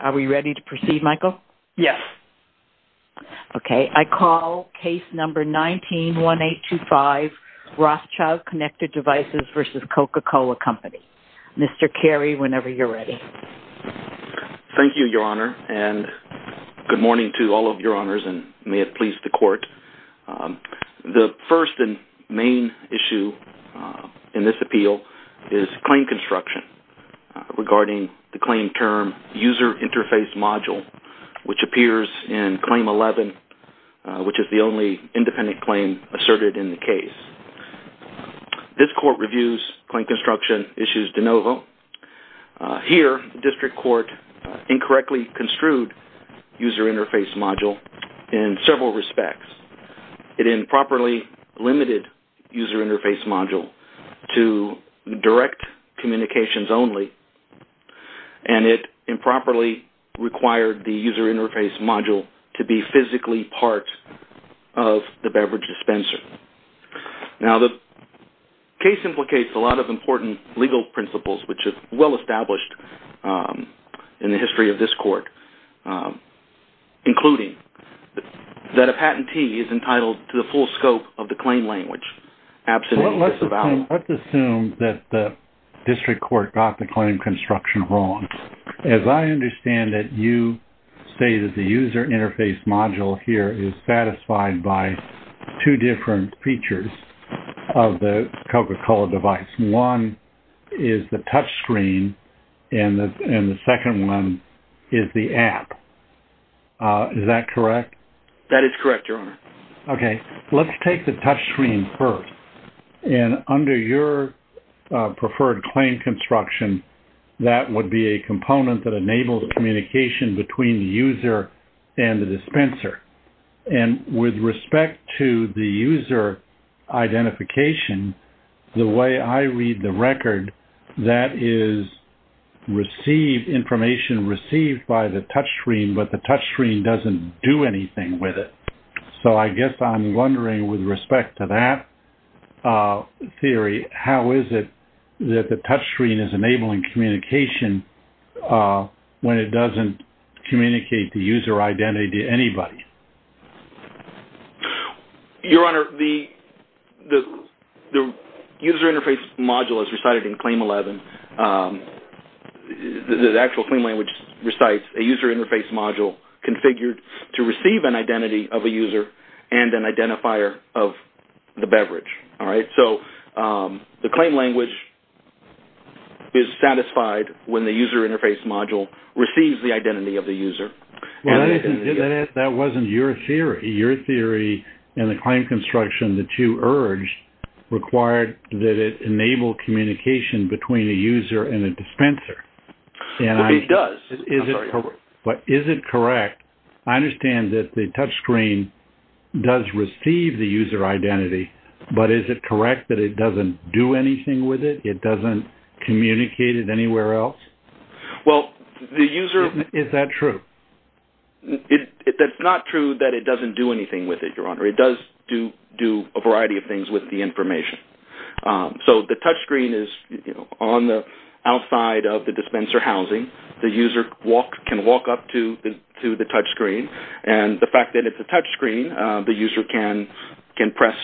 Are we ready to proceed, Michael? Yes. Okay, I call case number 19-1825, Rothschild Connected Devices v. Coca-Cola Company. Mr. Carey, whenever you're ready. Thank you, Your Honor, and good morning to all of Your Honors, and may it please the Court. The first and main issue in this appeal is claim construction regarding the claim term user interface module, which appears in Claim 11, which is the only independent claim asserted in the case. This Court reviews claim construction issues de novo. Here, District Court incorrectly construed user interface module in several respects. It improperly limited user interface module to direct communications only, and it improperly required the user interface module to be physically part of the beverage dispenser. Now, the case implicates a lot of important legal principles, which is well established in the history of this Court, including that a patentee is entitled to the full scope of the claim language. Let's assume that the District Court got the claim construction wrong. As I understand it, you say that the user interface module here is satisfied by two different features of the Coca-Cola device. One is the touchscreen, and the second one is the app. Is that correct? That is correct, Your Honor. Okay. Let's take the touchscreen first. Under your preferred claim construction, that would be a component that enables communication between the user and the dispenser. With respect to the user identification, the way I read the record, that is information received by the dispenser. I guess I'm wondering, with respect to that theory, how is it that the touchscreen is enabling communication when it doesn't communicate the user identity to anybody? Your Honor, the user interface module as recited in Claim 11, the actual claim language recites a user interface module configured to receive an identity of a user and an identifier of the beverage. So the claim language is satisfied when the user interface module receives the identity of the user. That wasn't your theory. Your theory and the claim construction that you urged required that it enable communication between a user and a dispenser. It does. But is it correct? I understand that the touchscreen does receive the user identity, but is it correct that it doesn't do anything with it? It doesn't communicate it anywhere else? Well, the user... Is that true? It's not true that it doesn't do anything with it, Your Honor. It does do a variety of things with the information. So the touchscreen is on the outside of the dispenser housing. The user can walk up to the touchscreen. And the fact that it's a touchscreen, the user can press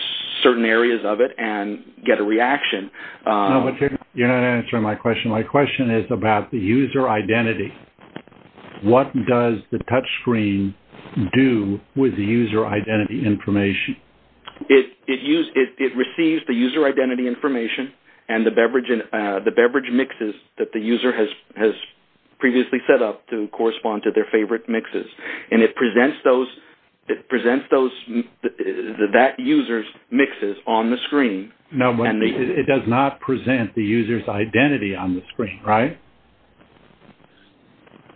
certain areas of it and get a reaction. No, but you're not answering my question. My question is about the user identity. What does the touchscreen do with the user identity information? It receives the user identity information and the beverage mixes that the user has previously set up to correspond to their favorite mixes. And it presents that user's mixes on the screen. No, but it does not present the user's identity on the screen, right?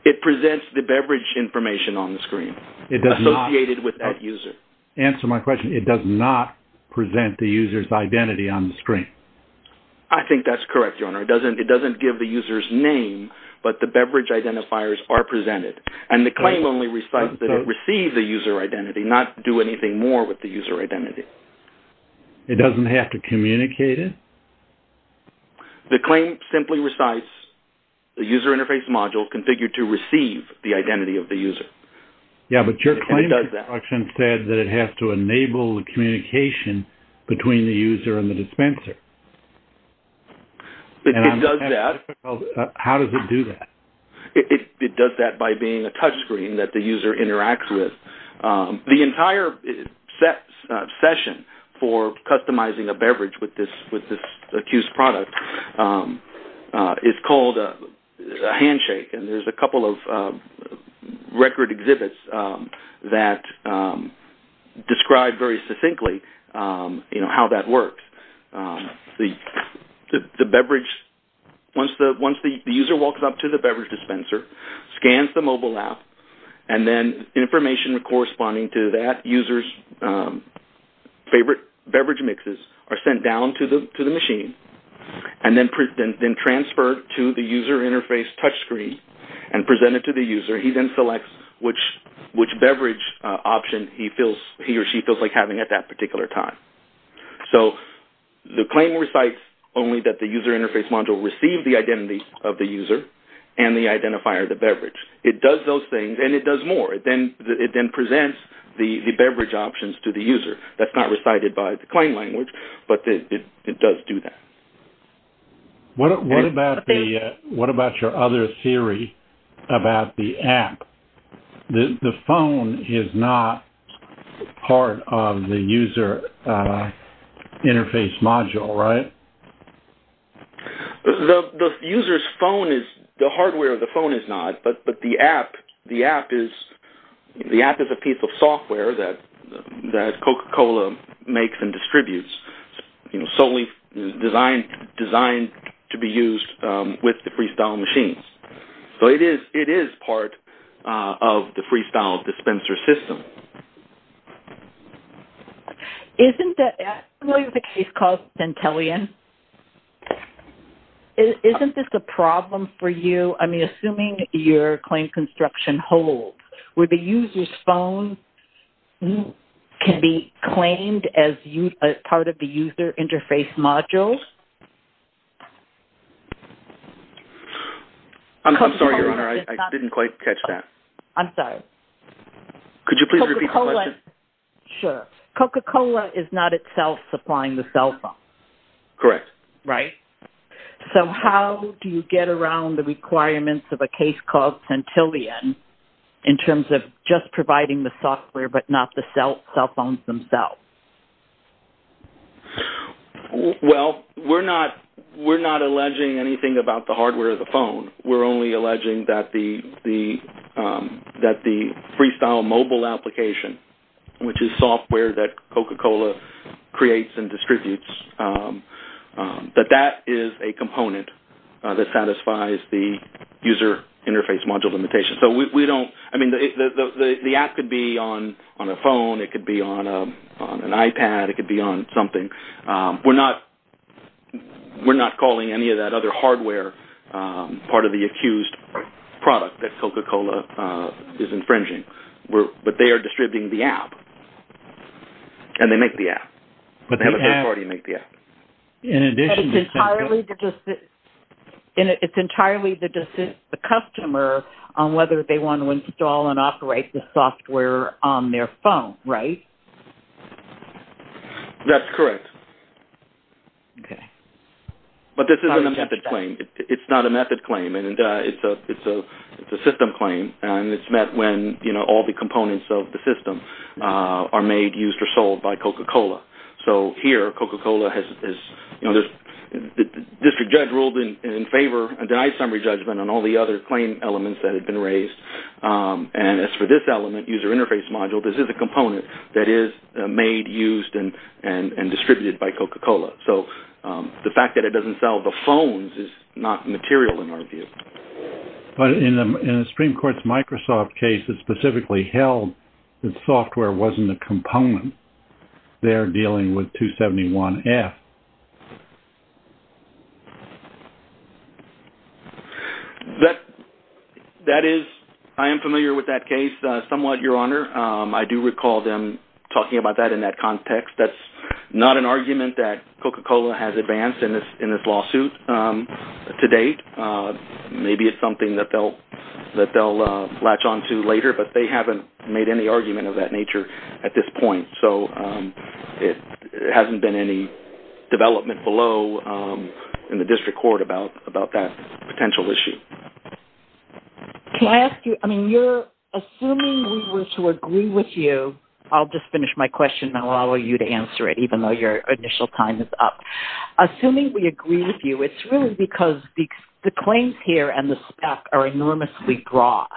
It presents the beverage information on the screen associated with that user. Answer my question. It does not present the I think that's correct, Your Honor. It doesn't give the user's name, but the beverage identifiers are presented. And the claim only recites that it received the user identity, not do anything more with the user identity. It doesn't have to communicate it? The claim simply recites the user interface module configured to receive the identity of the user. Yeah, but your claim construction said that it has to enable the communication between the user and the beverage. It does that. How does it do that? It does that by being a touchscreen that the user interacts with. The entire session for customizing a beverage with this accused product is called a handshake. And there's a couple of record exhibits that describe very succinctly, you know, how that works. Once the user walks up to the beverage dispenser, scans the mobile app, and then information corresponding to that user's favorite beverage mixes are sent down to the machine and then transferred to the user interface touchscreen and presented to the user. He then selects which beverage option he or she feels like at that particular time. So the claim recites only that the user interface module received the identity of the user and the identifier of the beverage. It does those things and it does more. It then presents the beverage options to the user. That's not recited by the claim language, but it does do that. What about your other theory about the app? The phone is not part of the user interface module, right? The user's phone is not. The hardware of the phone is not. But the app is a piece of software that Coca-Cola makes and distributes, solely designed to be used with the Freestyle machines. So it is part of the Freestyle dispenser system. Isn't this a problem for you? I mean, assuming your claim construction holds, where the user's phone can be claimed as part of the user interface module? I'm sorry, I didn't quite catch that. I'm sorry. Could you please repeat the question? Sure. Coca-Cola is not itself supplying the cell phone. Correct. Right. So how do you get around the requirements of a case called Centillion in terms of just providing the software but not the cell phones themselves? Well, we're not alleging anything about the Freestyle mobile application, which is software that Coca-Cola creates and distributes, that that is a component that satisfies the user interface module limitation. So the app could be on a phone, it could be on an iPad, it could be on something. We're not calling any of that other part of the accused product that Coca-Cola is infringing. But they are distributing the app and they make the app. But they have a third party to make the app. It's entirely the customer on whether they want to install and operate the software on their phone, right? That's correct. Okay. But this isn't a method claim. It's not a method claim and it's a system claim and it's met when, you know, all the components of the system are made, used, or sold by Coca-Cola. So here, Coca-Cola has, you know, the district judge ruled in favor and denied summary judgment on all the other claim elements that had been raised. And as for this element, user interface module, this is a Coca-Cola. So the fact that it doesn't sell the phones is not material in our view. But in the Supreme Court's Microsoft case, it specifically held that software wasn't a component. They're dealing with 271F. That is, I am familiar with that case somewhat, Your Honor. I do recall them talking about that in that context. That's not an argument that Coca-Cola has advanced in this lawsuit to date. Maybe it's something that they'll latch on to later, but they haven't made any argument of that nature at this point. So it hasn't been any development below in the district court about that potential issue. Can I ask you, I mean, you're assuming we were to agree with you, I'll just finish my question and I'll allow you to answer it, even though your initial time is up. Assuming we agree with you, it's really because the claims here and the spec are enormously broad.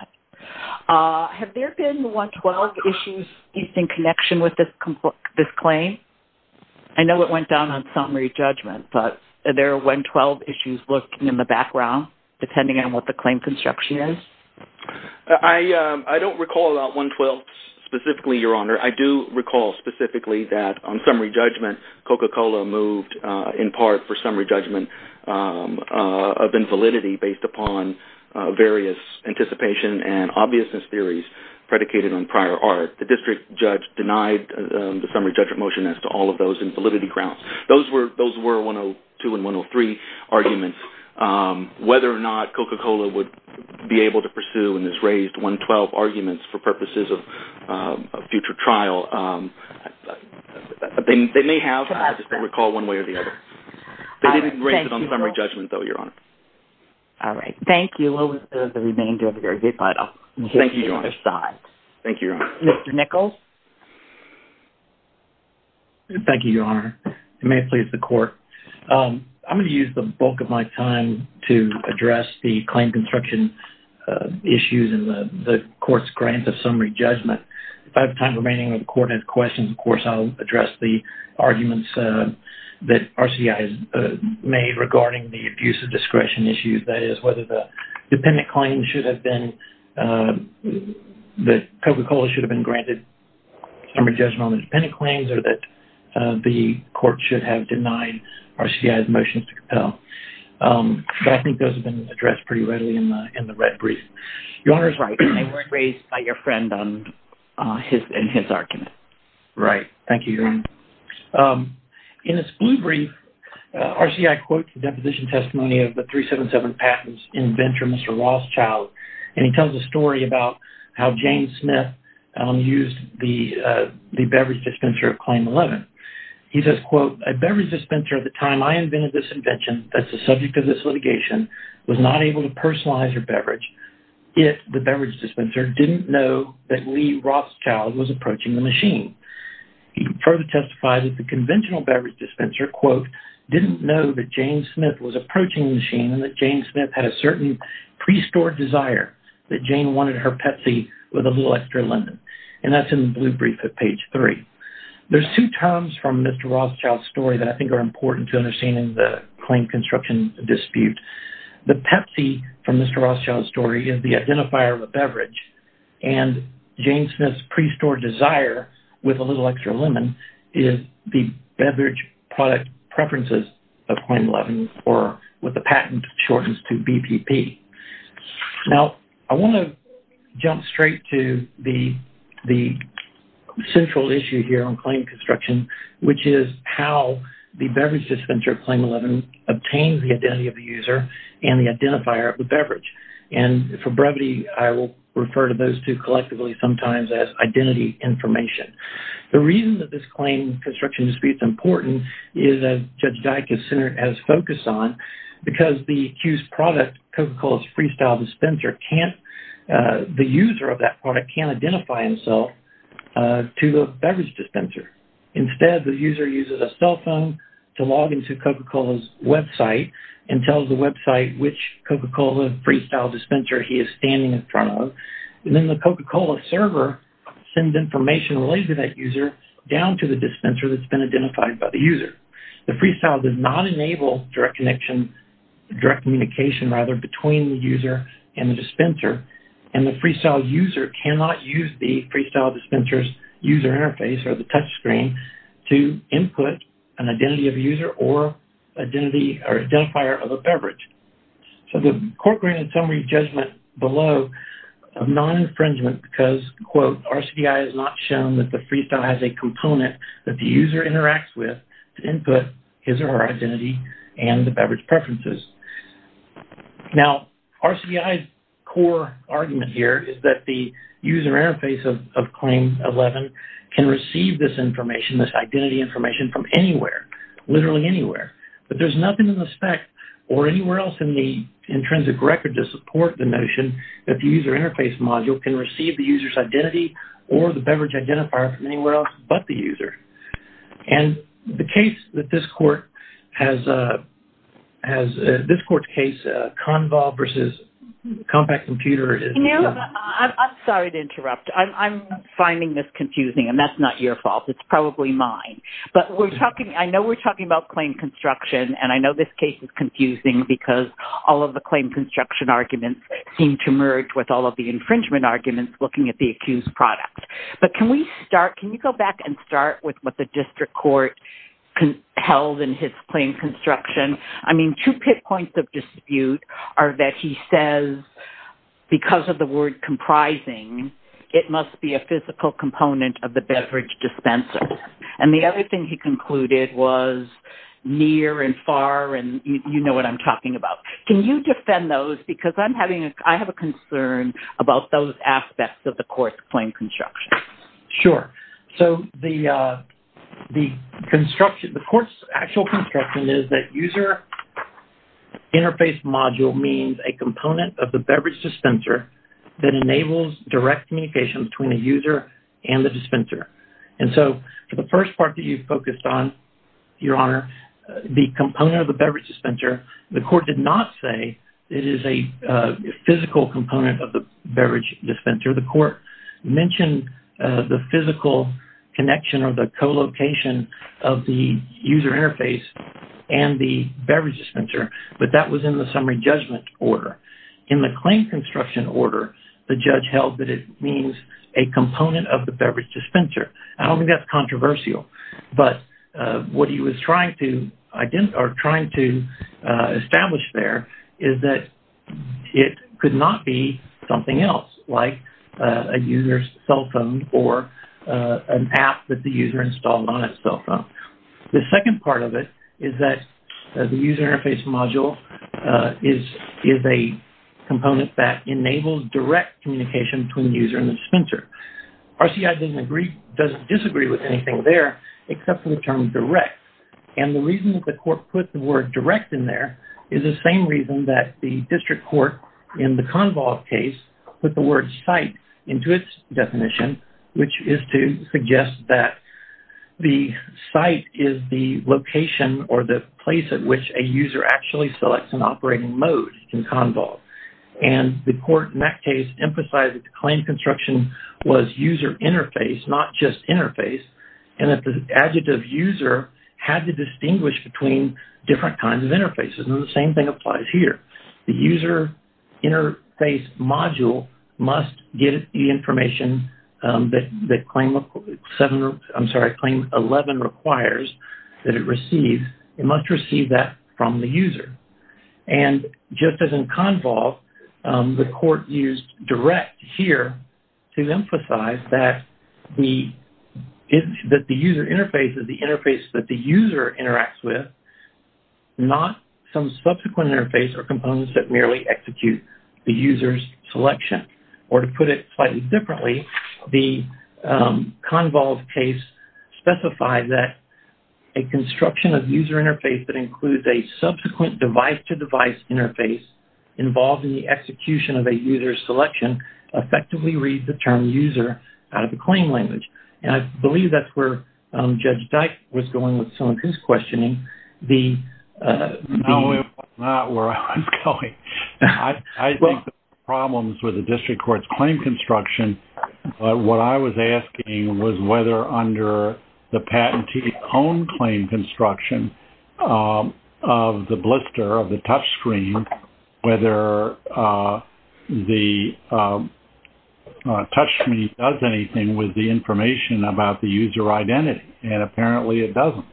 Have there been 112 issues in connection with this claim? I know it went down on summary judgment, but there are 112 issues lurking in the background, depending on what the claim construction is. I don't recall about 112 specifically, Your Honor. I do recall specifically that on summary judgment, Coca-Cola moved in part for summary judgment of invalidity based upon various anticipation and obviousness theories predicated on prior art. The district judge denied the summary judgment motion as to all of those invalidity grounds. Those were 102 and be able to pursue in this raised 112 arguments for purposes of a future trial. They may have, I just don't recall one way or the other. They didn't raise it on summary judgment, though, Your Honor. All right. Thank you. We'll wait for the remainder of the argument, but I'll hear from your side. Thank you, Your Honor. Thank you, Your Honor. Mr. Nichols? Thank you, Your Honor. If it may please the court, I'm going to use the bulk of my time to address the claim construction issues and the court's grant of summary judgment. If I have time remaining and the court has questions, of course, I'll address the arguments that RCI has made regarding the abuse of discretion issues. That is, whether the dependent claim should have been that Coca-Cola should have been granted summary judgment on the dependent claims or that the court should have denied RCI's motions to compel. I think those have been addressed pretty readily in the red brief. Your Honor is right. They weren't raised by your friend in his argument. Right. Thank you, Your Honor. In its blue brief, RCI quotes the deposition testimony of the 377 Patents inventor, Mr. Rothschild, and he tells a story about how James Smith used the beverage dispenser of Claim 11. He says, quote, a beverage dispenser at the time I invented this invention that's the subject of this litigation was not able to personalize her beverage if the beverage dispenser didn't know that Lee Rothschild was approaching the machine. He further testifies that the conventional beverage dispenser, quote, didn't know that Jane Smith was approaching the machine and that Jane Smith had a certain pre-stored desire that Jane wanted her Pepsi with a little extra lemon. And that's in the blue brief at page three. There's two terms from Mr. Rothschild's story that I think are important to understanding the claim construction dispute. The Pepsi from Mr. Rothschild's story is the identifier of a beverage and Jane Smith's pre-stored desire with a little extra lemon is the beverage product preferences of Claim 11 or what the patent shortens to BPP. Now, I want to jump straight to the central issue here on claim construction, which is how the beverage dispenser of Claim 11 obtained the identity of the user and the identifier of the beverage. And for brevity, I will refer to those two collectively sometimes as identity information. The reason that this claim construction dispute is important is as Judge Dyck has focused on because the accused product Coca-Cola's freestyle dispenser can't, the user of that product can't identify himself to the beverage dispenser. Instead, the user uses a cell phone to log into Coca-Cola's Web site and tells the Web site which Coca-Cola freestyle dispenser he is standing in front of. And then the Coca-Cola server sends information to that user down to the dispenser that's been identified by the user. The freestyle does not enable direct connection, direct communication rather between the user and the dispenser. And the freestyle user cannot use the freestyle dispenser's user interface or the touch screen to input an identity of a user or identity or identifier of a beverage. So the court granted summary judgment below of non-infringement because, quote, RCBI has not shown that the freestyle has a component that the user interacts with to input his or her identity and the beverage preferences. Now, RCBI's core argument here is that the user interface of claim 11 can receive this information, this identity information from anywhere, literally anywhere. But there's nothing in the spec or anywhere else in the intrinsic record to support the notion that the user interface module can receive the user's or the beverage identifier from anywhere else but the user. And the case that this court has, this court's case, Convo versus Compact Computer is... You know, I'm sorry to interrupt. I'm finding this confusing and that's not your fault. It's probably mine. But we're talking, I know we're talking about claim construction and I know this case is confusing because all of the claim construction arguments seem to merge with all the infringement arguments looking at the accused product. But can we start, can you go back and start with what the district court held in his claim construction? I mean, two pit points of dispute are that he says because of the word comprising, it must be a physical component of the beverage dispenser. And the other thing he concluded was near and far and you know what I'm talking about. Can you defend those because I'm having, I have a concern about those aspects of the court's claim construction? Sure. So the construction, the court's actual construction is that user interface module means a component of the beverage dispenser that enables direct communication between the user and the dispenser. And so the first part you focused on, your honor, the component of the beverage dispenser, the court did not say it is a physical component of the beverage dispenser. The court mentioned the physical connection or the co-location of the user interface and the beverage dispenser, but that was in the summary judgment order. In the claim construction order, the judge held that it means a component of the beverage dispenser. I don't think that's controversial, but what he was trying to identify or trying to establish there is that it could not be something else like a user's cell phone or an app that the user installed on his cell phone. The second part of it is that the user interface module is a component that enables direct communication between the user and the dispenser. RCI doesn't disagree with anything there, except for the term direct. And the reason that the court put the word direct in there is the same reason that the district court in the convolve case put the word site into its definition, which is to suggest that the site is the location or the place at which a user actually selects an operating mode in convolve. And the court in that case emphasized that the claim construction was user interface, not just interface, and that the adjective user had to distinguish between different kinds of interfaces. And the same thing applies here. The user interface module must give the information that claim 11 requires that it receives. It must receive that from the user. And just as in convolve, the court used direct here to emphasize that the user interface is the interface that the user interacts with, not some subsequent interface or components that merely execute the user's The convolve case specified that a construction of user interface that includes a subsequent device-to-device interface involved in the execution of a user's selection effectively reads the term user out of the claim language. And I believe that's where Judge Dyke was going with some of his questioning. No, it was not where I was going. I think the problems with district court's claim construction, what I was asking was whether under the patentee-owned claim construction of the blister, of the touchscreen, whether the touchscreen does anything with the information about the user identity. And apparently, it doesn't.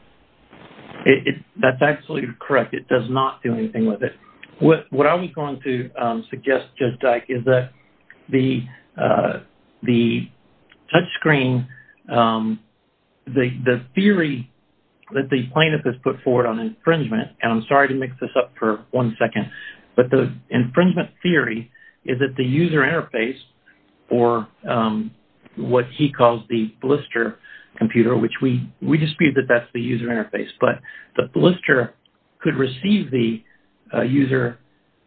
That's absolutely correct. It does not do anything with it. What I was going to suggest, Judge Dyke, is that the touchscreen, the theory that the plaintiff has put forward on infringement, and I'm sorry to mix this up for one second, but the infringement theory is that the user interface or what he calls the blister computer, which we dispute that that's the user interface, but the blister could receive the user,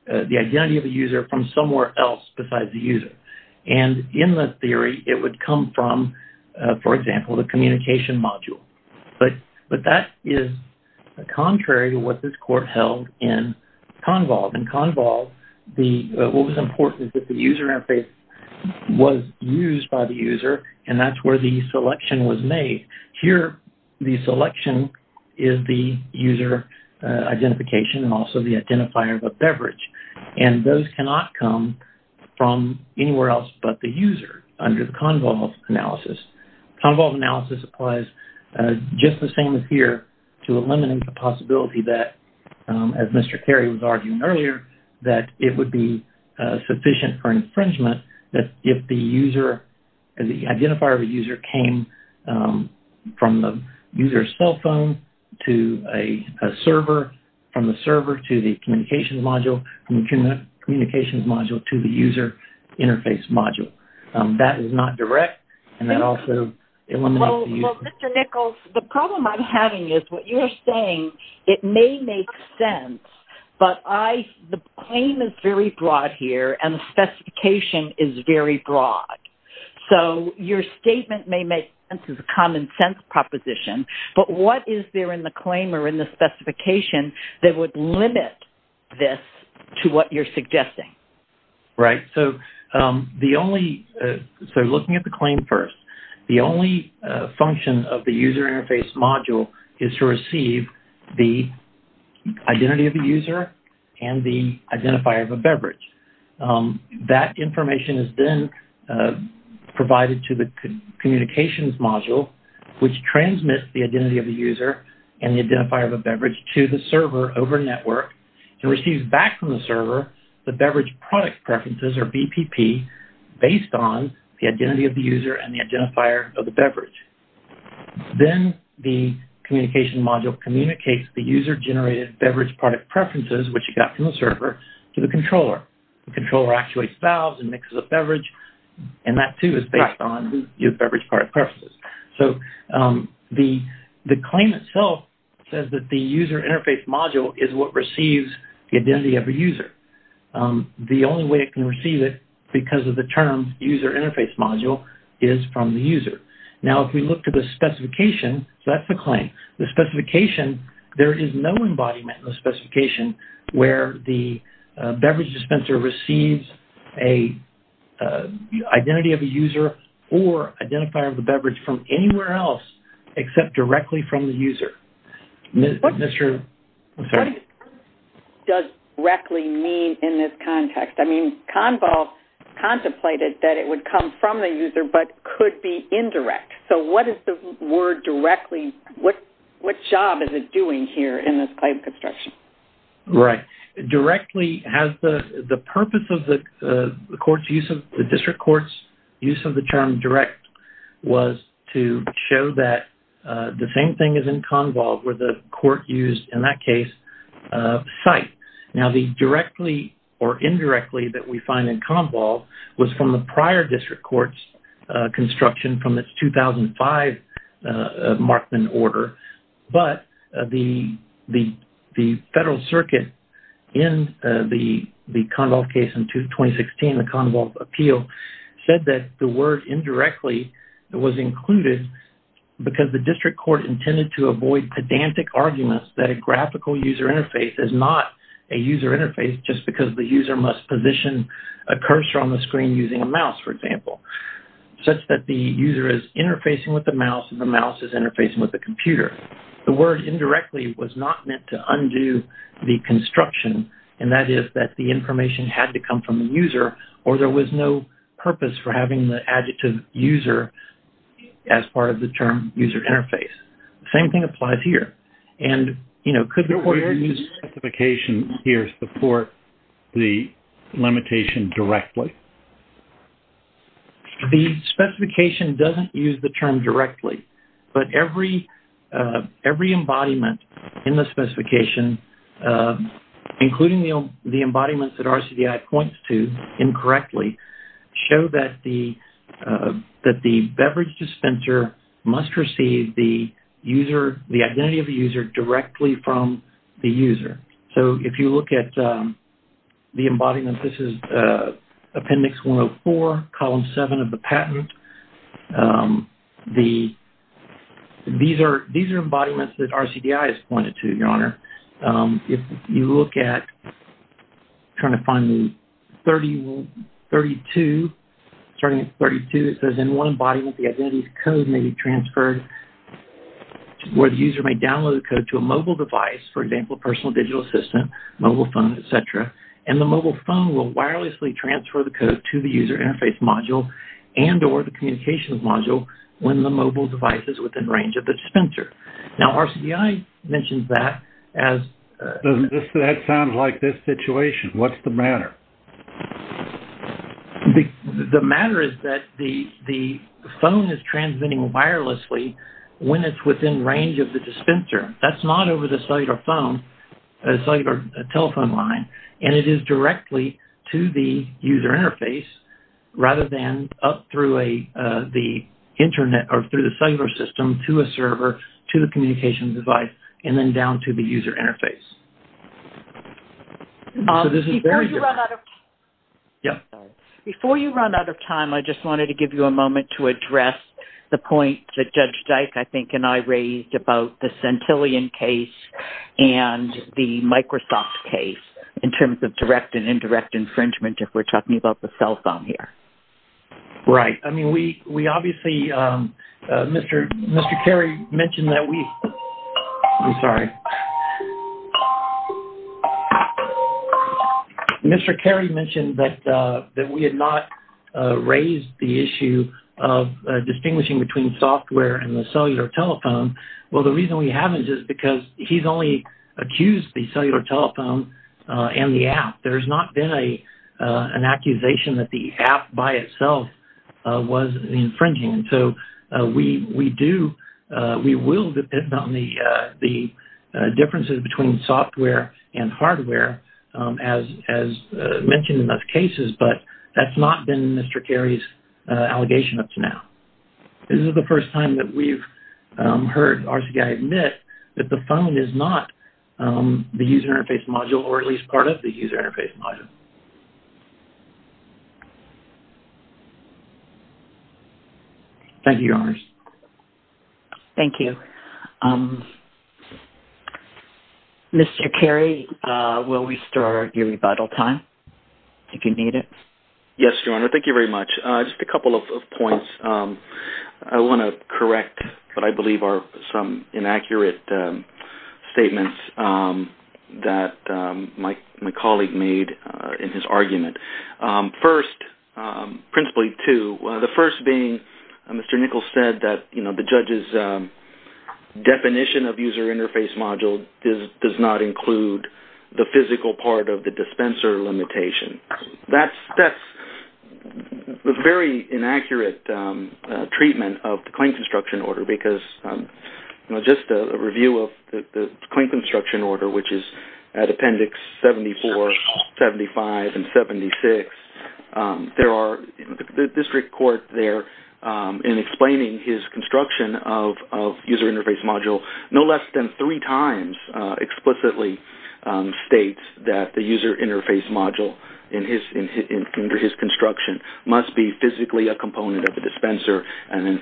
the identity of the user from somewhere else besides the user. And in that theory, it would come from, for example, the communication module. But that is contrary to what this court held in Convolve. In Convolve, what was important is that the user interface was used by the user, and that's where the selection was made. Here, the selection is the user identification and also the identifier of a beverage. And those cannot come from anywhere else but the user under the Convolve analysis. Convolve analysis applies just the same as here to eliminate the possibility that, as Mr. Carey was arguing earlier, that it would be sufficient for infringement that if the user, the identifier of a user came from the user's cell phone to a server, from the server to the communications module, from the communications module to the user interface module. That is not direct, and that also eliminates the user. Well, Mr. Nichols, the problem I'm having is what you're saying, it may make sense, but the claim is very broad here, and the specification is very broad. So, your statement may make sense as a common-sense proposition, but what is there in the claim or in the specification that would limit this to what you're suggesting? Right. So, looking at the claim first, the only function of the user interface module is to receive the identity of the user and the identifier of a beverage. That information is then provided to the communications module, which transmits the identity of the user and the identifier of a beverage to the server over network and receives back from the server the beverage product preferences, or BPP, based on the identity of the user and the identifier of the beverage. Then the communication module communicates the user-generated beverage product preferences, which you got from the server, to the controller. The controller actuates valves and mixes up beverage, and that, too, is based on your beverage product preferences. So, the claim itself says that the user interface module is what receives the identity of a user. The only way it can receive it, because of the term user interface module, is from the user. Now, if we look at the specification, so that's the claim. The user interface module receives an identity of a user or identifier of a beverage from anywhere else except directly from the user. What does directly mean in this context? I mean, CONVOL contemplated that it would come from the user but could be indirect. So, what is the word directly? What job is it doing here in this claim construction? Right. Directly has the purpose of the court's use of the district court's use of the term direct was to show that the same thing is in CONVOL, where the court used, in that case, site. Now, the directly or indirectly that we find in CONVOL was from the prior district court's construction from its 2005 Markman order, but the federal circuit in the CONVOL case in 2016, the CONVOL appeal, said that the word indirectly was included because the district court intended to avoid pedantic arguments that a graphical user interface is not a user interface just because the user is interfacing with the mouse and the mouse is interfacing with the computer. The word indirectly was not meant to undo the construction, and that is that the information had to come from the user or there was no purpose for having the adjective user as part of the term user interface. The same thing applies here. And, you know, could the court use the specification here to support the limitation directly? The specification doesn't use the term directly, but every embodiment in the specification, including the embodiments that RCDI points to incorrectly, show that the beverage dispenser must receive the identity of the user directly from the user. So, if you look at the embodiment, this is Appendix 104, Column 7 of the patent. These are embodiments that RCDI has pointed to, Your Honor. If you look at, trying to find the 32, starting at 32, it says in one embodiment, the identity of the code may be transferred where the user may download the code to a mobile device, for example, a personal digital assistant, mobile phone, et cetera, and the mobile phone will wirelessly transfer the code to the user interface module and or the communications module when the mobile device is within range of the dispenser. Now, RCDI mentions that as... That sounds like this situation. What's the matter? The matter is that the phone is transmitting wirelessly when it's within range of the dispenser. That's not over the cellular phone, cellular telephone line, and it is directly to the user interface rather than up through the cellular system to a server, to the communication device, and then down to the user interface. Before you run out of time, I just wanted to give you a moment to address the point that Judge Dyke, I think, and I raised about the Centillion case and the Microsoft case in terms of direct and indirect infringement if we're talking about the cell phone here. Right. I mean, we obviously... Mr. Carey mentioned that we... I'm sorry. Mr. Carey mentioned that we had not raised the issue of distinguishing between software and the cellular telephone. Well, the reason we haven't is because he's only accused the cellular itself was infringing, and so we do... We will depend on the differences between software and hardware as mentioned in those cases, but that's not been Mr. Carey's allegation up to now. This is the first time that we've heard RCDI admit that the phone is not the user interface module or at least part of the user interface module. Thank you, Your Honor. Thank you. Mr. Carey, will we start your rebuttal time if you need it? Yes, Your Honor. Thank you very much. Just a couple of points. I want to correct what I believe are some inaccurate statements that my colleague made in his argument. First, principally two, the first being Mr. Nichols said that the judge's definition of user interface module does not include the physical part of the dispenser limitation. That's a very inaccurate treatment of the claim construction order because just a review of the claim construction order, which is at Appendix 74, 75, and 76, there are... The district court there in explaining his construction of user interface module no less than three times explicitly states that the user and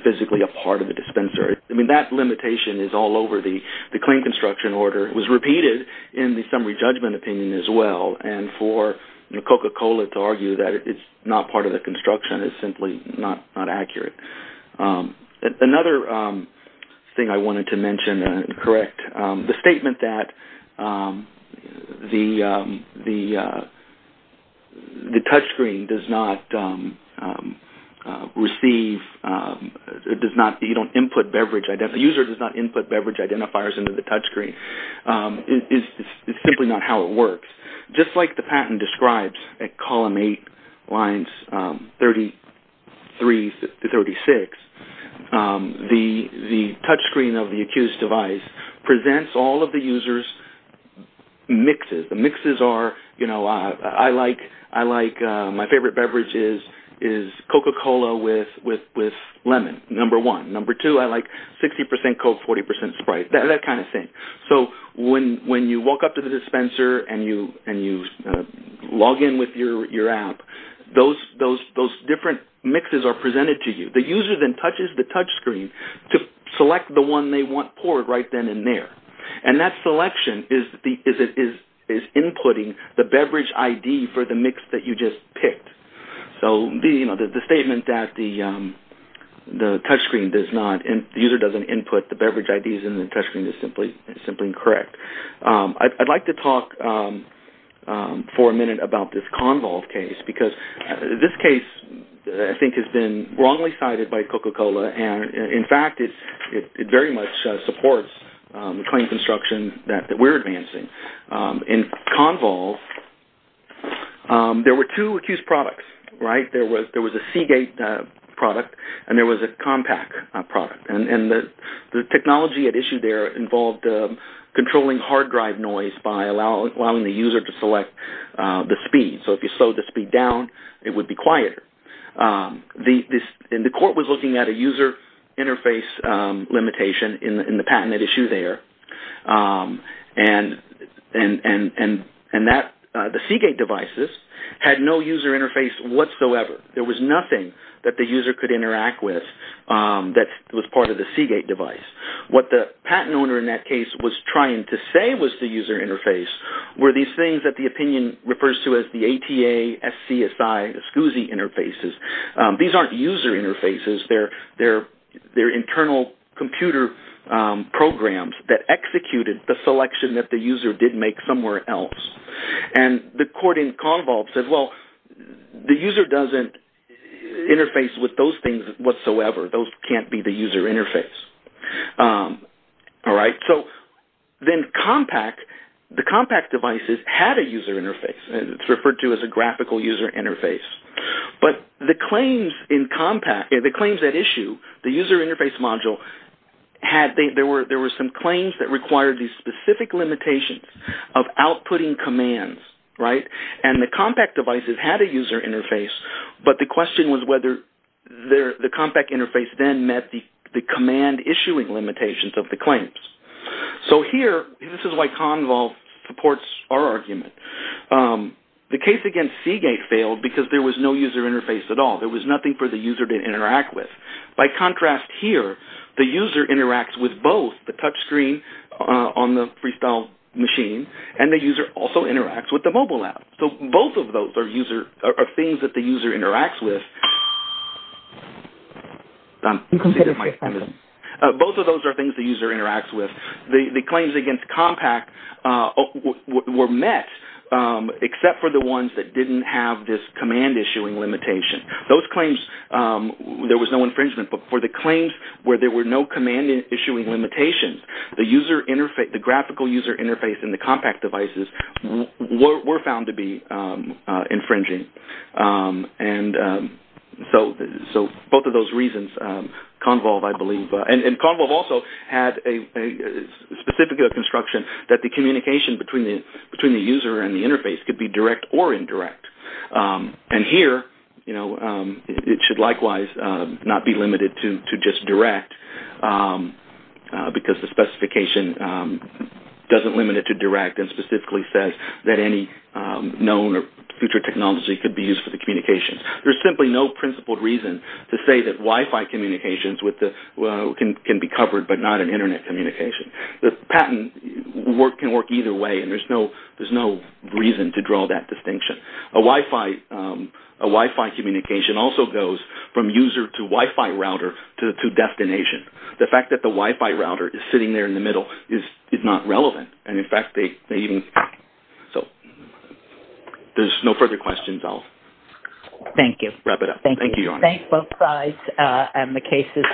physically a part of the dispenser. That limitation is all over the claim construction order. It was repeated in the summary judgment opinion as well. For Coca-Cola to argue that it's not part of the construction is simply not accurate. Another thing I wanted to mention and correct, the statement that the touchscreen does not input beverage identifiers into the touchscreen is simply not how it works. Just like the patent describes at Column 8, Lines 33 to 36, the touchscreen of the accused device presents all of the user's mixes. The mixes are, you know, I like my favorite beverage is Coca-Cola with lemon, number one. Number two, I like 60% Coke, 40% Sprite, that kind of thing. So when you walk up to the dispenser and you log in with your app, those different mixes are presented to you. The user then touches the touchscreen to select the one they want poured right then and there. And that selection is inputting the beverage ID for the mix that you just picked. So the statement that the user doesn't input the beverage IDs in the touchscreen is simply incorrect. I'd like to talk for a minute about this Convolve case because this case I think has been wrongly cited by Coca-Cola. And in fact, it very much supports the claim construction that we're advancing. In Convolve, there were two accused products, right? There was a Seagate product and there was a Compaq product. And the technology at issue there involved controlling hard drive noise by allowing the user to select the speed. So if you slow the speed down, it would be quieter. And the court was looking at a user interface limitation in the patent at issue there. And the Seagate devices had no user interface whatsoever. There was nothing that the user could interact with that was part of the Seagate device. What the patent owner in that case was trying to say was the user interface were these things that the opinion refers to as the ATA, SCSI, SCSI interfaces. These aren't user interfaces. They're internal computer programs that executed the selection that the user did make somewhere else. And the court in Convolve said, well, the user doesn't interface with those things whatsoever. Those can't be the user interface. All right. So then Compaq, the Compaq devices had a user interface. It's referred to as a graphical user interface. But the claims in Compaq, the claims at issue, the user interface module, there were some claims that required these specific limitations of outputting commands, right? And the Compaq devices had a user interface, but the question was whether the Compaq interface then met the command issuing limitations of the claims. So here, this is why Convolve supports our argument. The case against Seagate failed because there was no user interface at all. There was nothing for the user to interact with. By contrast here, the user interacts with both the touchscreen on the Freestyle machine and the user also interacts with the mobile app. So both of those are things that the user interacts with. Both of those are things the user interacts with. The claims against Compaq were met except for the ones that didn't have this command issuing limitation. Those claims, there was no infringement. But for the claims where there were no command issuing limitations, the user interface, the graphical user interface in the Compaq devices were found to be infringing. And so both of those reasons, Convolve, I believe, and Convolve also had a specific construction that the communication between the user and the interface could be direct or indirect. And here, you know, it should likewise not be limited to just direct because the specification doesn't limit it to direct and specifically says that any known or future technology could be used for the communications. There's simply no principled reason to say that Wi-Fi communications can be covered but not an Internet communication. The patent can work either way and there's no reason to draw that distinction. A Wi-Fi communication also goes from user to Wi-Fi router to destination. The fact that the Wi-Fi router is sitting there in the middle is not relevant. And in fact, they even, so there's no further questions. I'll wrap it up. Thank you. Thank you both sides and the cases.